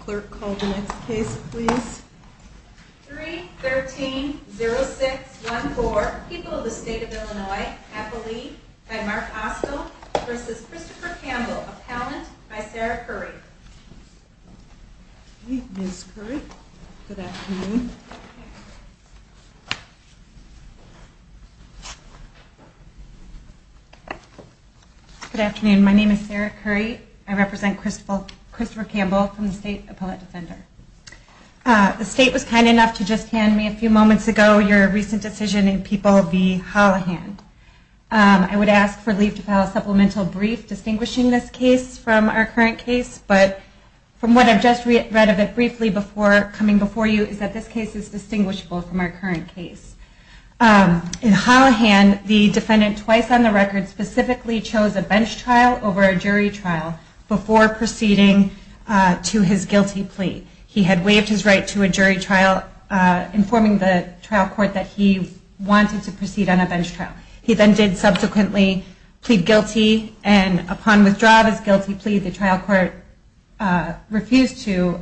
Clerk, call the next case please. 3-13-06-14, People of the State of Illinois, Appellee, by Mark Ostell, v. Christopher Campbell, Appellant, by Sarah Curry. Ms. Curry, good afternoon. Good afternoon. My name is Sarah Curry. I represent Christopher Campbell from the State Appellate Defender. The State was kind enough to just hand me a few moments ago your recent decision in People v. Hollihan. I would ask for leave to file a supplemental brief distinguishing this case from our current case, but from what I've just read of it briefly before coming before you is that this case is distinguishable from our current case. In Hollihan, the defendant twice on the record specifically chose a bench trial over a jury trial before proceeding to his guilty plea. He had waived his right to a jury trial, informing the trial court that he wanted to proceed on a bench trial. He then did subsequently plead guilty, and upon withdrawal of his guilty plea, the trial court refused to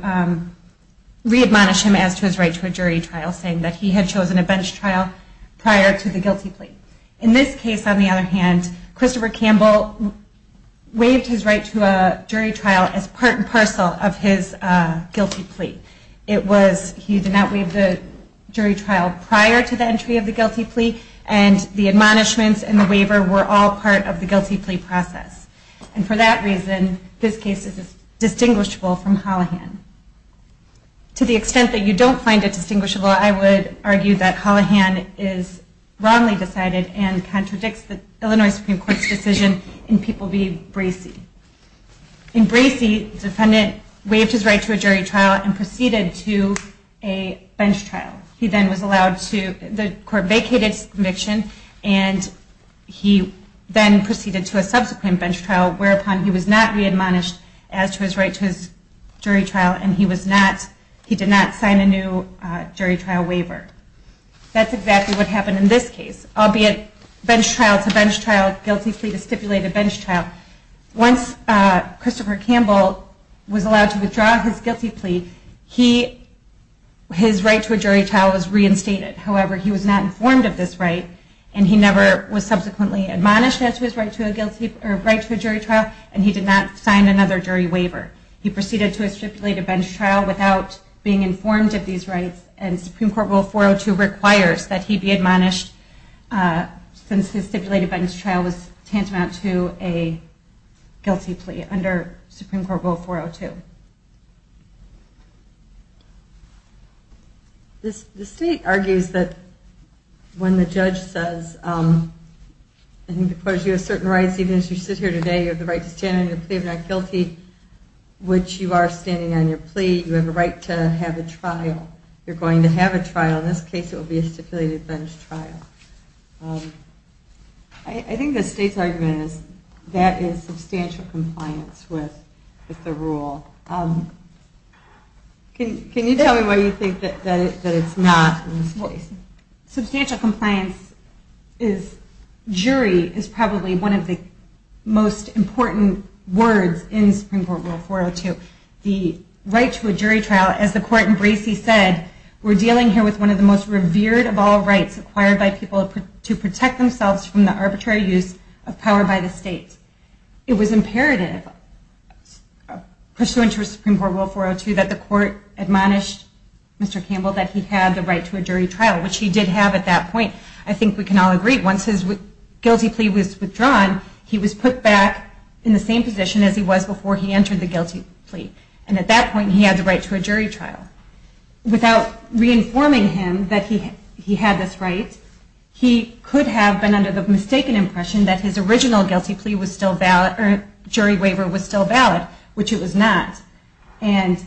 re-admonish him as to his right to a jury trial, saying that he had chosen a bench trial prior to the guilty plea. In this case, on the other hand, Christopher Campbell waived his right to a jury trial as part and parcel of his guilty plea. He did not waive the jury trial prior to the entry of the guilty plea, and the admonishments and the waiver were all part of the guilty plea process. And for that reason, this case is distinguishable from Hollihan. To the extent that you don't find it distinguishable, I would argue that Hollihan is wrongly decided and contradicts the Illinois Supreme Court's decision in People v. Bracey. In Bracey, the defendant waived his right to a jury trial and proceeded to a bench trial. The court vacated his conviction, and he then proceeded to a subsequent bench trial, whereupon he was not re-admonished as to his right to a jury trial, and he did not sign a new jury trial waiver. That's exactly what happened in this case, albeit bench trial to bench trial, guilty plea to stipulated bench trial. Once Christopher Campbell was allowed to withdraw his guilty plea, his right to a jury trial was reinstated. However, he was not informed of this right, and he never was subsequently admonished as to his right to a jury trial, and he did not sign another jury waiver. He proceeded to a stipulated bench trial without being informed of these rights, and Supreme Court Rule 402 requires that he be admonished since his stipulated bench trial was tantamount to a guilty plea under Supreme Court Rule 402. The state argues that when the judge says, I think the court has you a certain rights, even as you sit here today, you have the right to stand on your plea of not guilty, which you are standing on your plea, you have a right to have a trial. You're going to have a trial, in this case it will be a stipulated bench trial. I think the state's argument is that is substantial compliance with the rule. Can you tell me why you think that it's not? Substantial compliance is, jury is probably one of the most important words in Supreme Court Rule 402. The right to a jury trial, as the court in Bracey said, we're dealing here with one of the most revered of all rights acquired by people to protect themselves from the arbitrary use of power by the state. It was imperative, pursuant to Supreme Court Rule 402, that the court admonish Mr. Campbell that he had the right to a jury trial, which he did have at that point. I think we can all agree, once his guilty plea was withdrawn, he was put back in the same position as he was before he entered the guilty plea. And at that point he had the right to a jury trial. Without re-informing him that he had this right, he could have been under the mistaken impression that his original guilty plea was still valid, or jury waiver was still valid, which it was not. And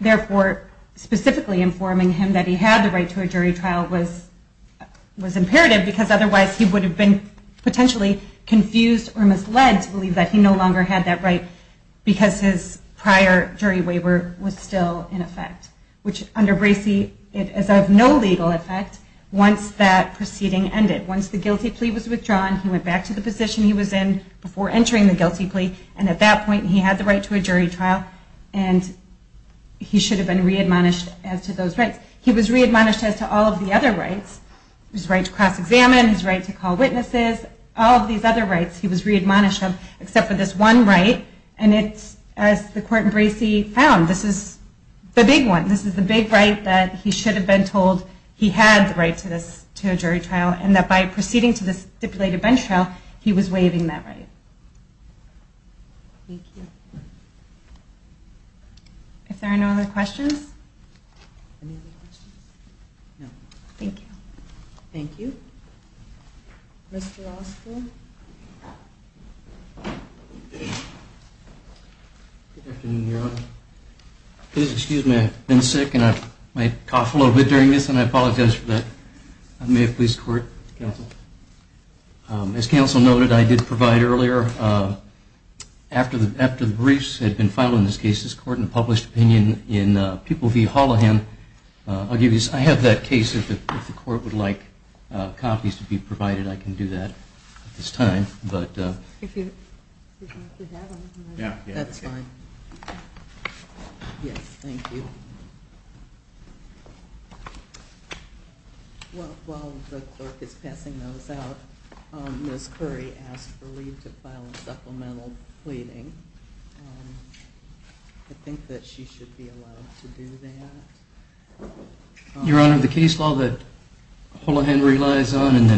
therefore, specifically informing him that he had the right to a jury trial was imperative, because otherwise he would have been potentially confused or misled to believe that he no longer had that right, because his prior jury waiver was still in effect. Which, under Bracey, is of no legal effect once that proceeding ended. Once the guilty plea was withdrawn, he went back to the position he was in before entering the guilty plea, and at that point he had the right to a jury trial, and he should have been re-admonished as to those rights. He was re-admonished as to all of the other rights. His right to cross-examine, his right to call witnesses, all of these other rights he was re-admonished of, except for this one right. And it's, as the court in Bracey found, this is the big one. This is the big right that he should have been told he had the right to a jury trial, and that by proceeding to this stipulated bench trial, he was waiving that right. If there are no other questions? Thank you. Thank you. Mr. Oster? Good afternoon, Your Honor. Please excuse me, I've been sick, and I might cough a little bit during this, and I apologize for that. May it please the court, counsel? As counsel noted, I did provide earlier, after the briefs had been filed in this case, this court, in a published opinion in People v. Hollihan, I'll give you, I have that case, if the court would like. If there are copies to be provided, I can do that at this time. Thank you. That's fine. Yes, thank you. While the clerk is passing those out, Ms. Curry asked for leave to file a supplemental pleading. I think that she should be allowed to do that. Your Honor, the case law that Hollihan relies on and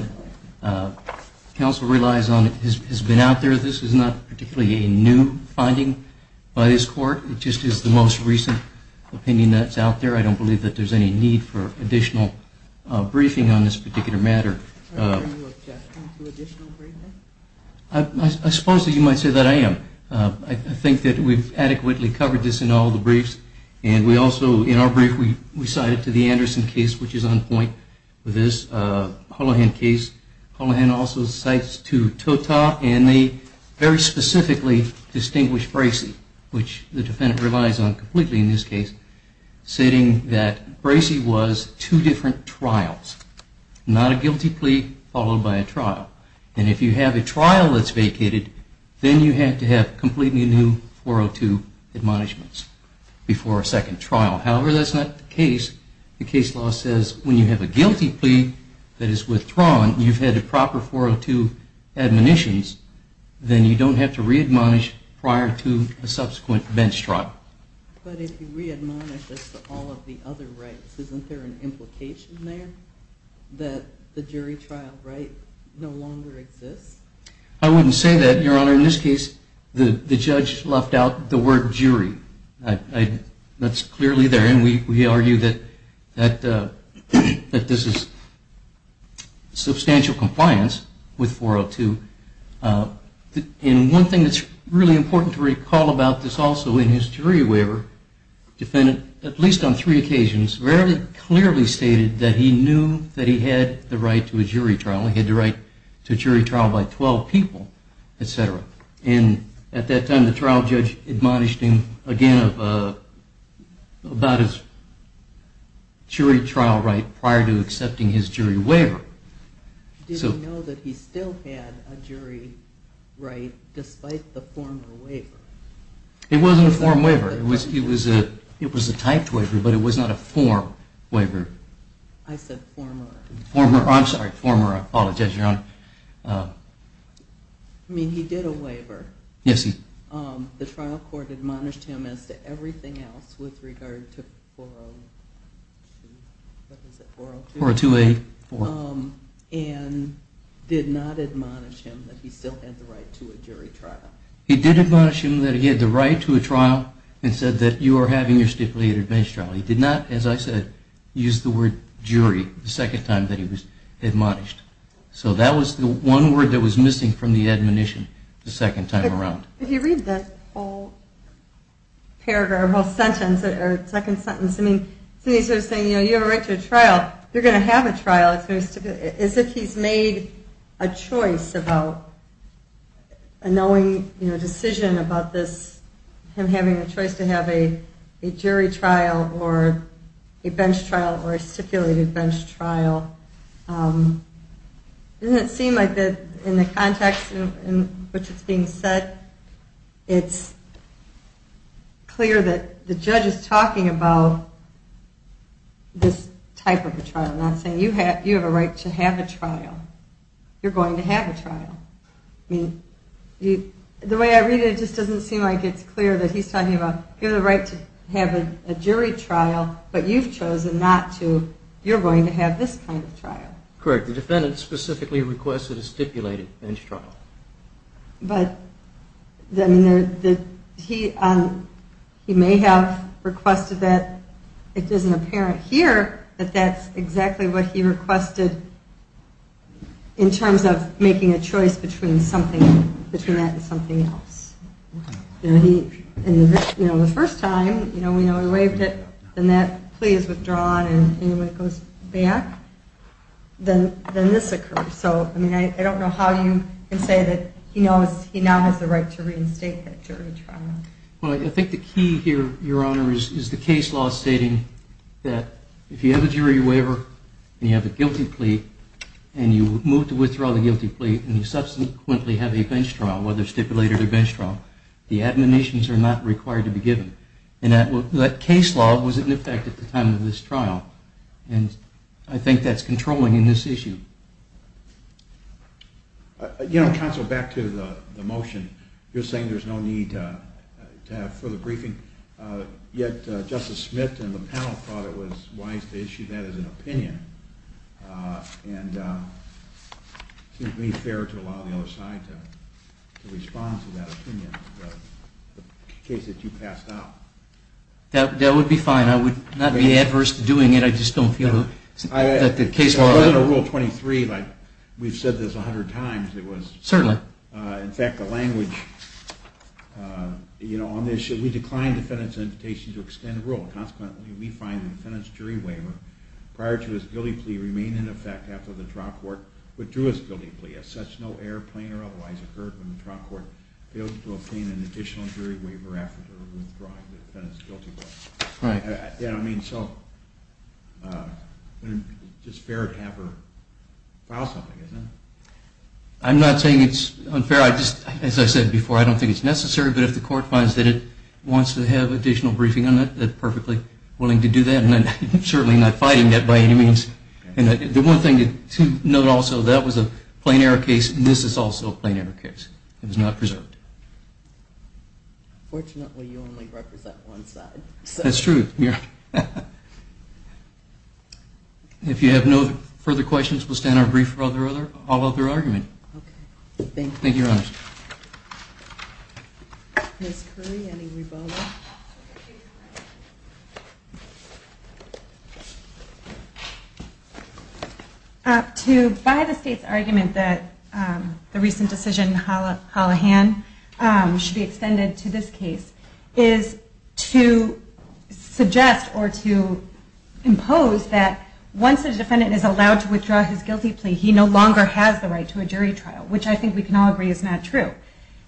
that counsel relies on has been out there. This is not particularly a new finding by this court. It just is the most recent opinion that's out there. I don't believe that there's any need for additional briefing on this particular matter. Are you objecting to additional briefing? I suppose that you might say that I am. I think that we've adequately covered this in all the briefs. And we also, in our brief, we cite it to the Anderson case, which is on point with this Hollihan case. Hollihan also cites to Tota and they very specifically distinguish Bracey, which the defendant relies on completely in this case, stating that Bracey was two different trials. Not a guilty plea followed by a trial. And if you have a trial that's vacated, then you have to have completely new 402 admonishments before a second trial. However, that's not the case. The case law says when you have a guilty plea that is withdrawn, you've had a proper 402 admonitions, then you don't have to re-admonish prior to a subsequent bench trial. But if you re-admonish, that's all of the other rights. Isn't there an implication there that the jury trial right no longer exists? I wouldn't say that, Your Honor. In this case, the judge left out the word jury. That's clearly there. And we argue that this is substantial compliance with 402. And one thing that's really important to recall about this also in his jury waiver, is that the former defendant, at least on three occasions, very clearly stated that he knew that he had the right to a jury trial. He had the right to a jury trial by 12 people, etc. And at that time, the trial judge admonished him again about his jury trial right prior to accepting his jury waiver. Did he know that he still had a jury right despite the former waiver? It wasn't a form waiver. It was a typed waiver, but it was not a form waiver. I said former. I'm sorry, former. I apologize, Your Honor. I mean, he did a waiver. The trial court admonished him as to everything else with regard to 402. And did not admonish him that he still had the right to a jury trial. He did admonish him that he had the right to a trial and said that you are having your stipulated admonition trial. He did not, as I said, use the word jury the second time that he was admonished. So that was the one word that was missing from the admonition the second time around. If you read that whole paragraph, or whole sentence, or second sentence, I mean, he's sort of saying, you know, you have a right to a trial. You're going to have a trial. As if he's made a choice about knowing, you know, a decision about this, him having a choice to have a jury trial or a bench trial or a stipulated bench trial. Doesn't it seem like in the context in which it's being said, it's clear that the judge is talking about this type of a trial, not saying you have a right to have a trial. You're going to have a trial. The way I read it, it just doesn't seem like it's clear that he's talking about you have the right to have a jury trial, but you've chosen not to. You're going to have this kind of trial. Correct. The defendant specifically requested a stipulated bench trial. He may have requested that it isn't apparent here that that's exactly what he requested in terms of making a choice between something between that and something else. The first time, we know he waived it, then that plea is withdrawn and when it goes back, then this occurs. So, I mean, I don't know how you can say that he knows he now has the right to reinstate that jury trial. Well, I think the key here, Your Honor, is the case law stating that if you have a jury waiver and you have a guilty plea and you move to withdraw the guilty plea and you subsequently have a bench trial, whether stipulated or bench trial, the admonitions are not required to be given. And that case law was in effect at the time of this trial. And I think that's controlling in this issue. You know, Counsel, back to the motion. You're saying there's no need to have further briefing. Yet, Justice Smith and the panel thought it was wise to issue that as an opinion. And it seems to me fair to allow the other side to respond to that opinion about the case that you passed out. That would be fine. I would not be adverse to doing it. I just don't feel that the case law... It wasn't a Rule 23 like we've said this a hundred times. Certainly. In fact, the language on this, we declined the defendant's invitation to extend the rule. Consequently, we find the defendant's jury waiver, prior to his guilty plea, remained in effect after the trial court withdrew his guilty plea. As such, no error, plain or otherwise occurred when the trial court failed to obtain an additional jury waiver after withdrawing the defendant's guilty plea. It's just fair to have her file something, isn't it? I'm not saying it's unfair. As I said before, I don't think it's necessary. But if the court finds that it wants to have additional briefing on it, they're perfectly willing to do that. And I'm certainly not fighting that by any means. The one thing to note also, that was a plain error case, and this is also a plain error case. It was not preserved. Fortunately, you only represent one side. That's true. If you have no further questions, we'll stand our brief for all other argument. Thank you, Your Honors. Ms. Curry, any rebuttal? To buy the State's argument that the recent decision in Hallahan should be extended to this case, is to suggest or to impose that once a defendant is allowed to withdraw his guilty plea, he no longer has the right to a jury trial, which I think we can all agree is not true.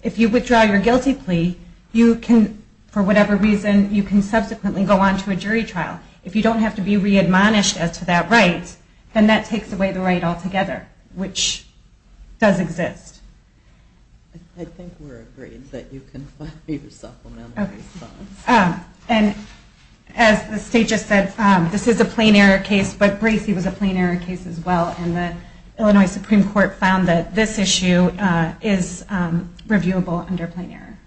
If you withdraw your guilty plea, you can, for whatever reason, you can subsequently go on to a jury trial. If you don't have to be readmonished as to that right, then that takes away the right altogether, which does exist. I think we're agreed that you can And as the State just said, this is a plain error case, but Bracey was a plain error case as well, and the Illinois Supreme Court found that this issue is reviewable under plain error.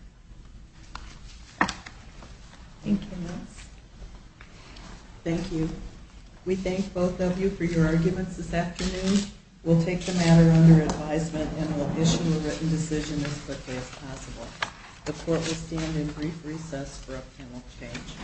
Thank you. Thank you. We thank both of you for your arguments this afternoon. We'll take the matter under advisement and we'll issue a written decision as quickly as possible. The Court will stand in brief recess for a panel change.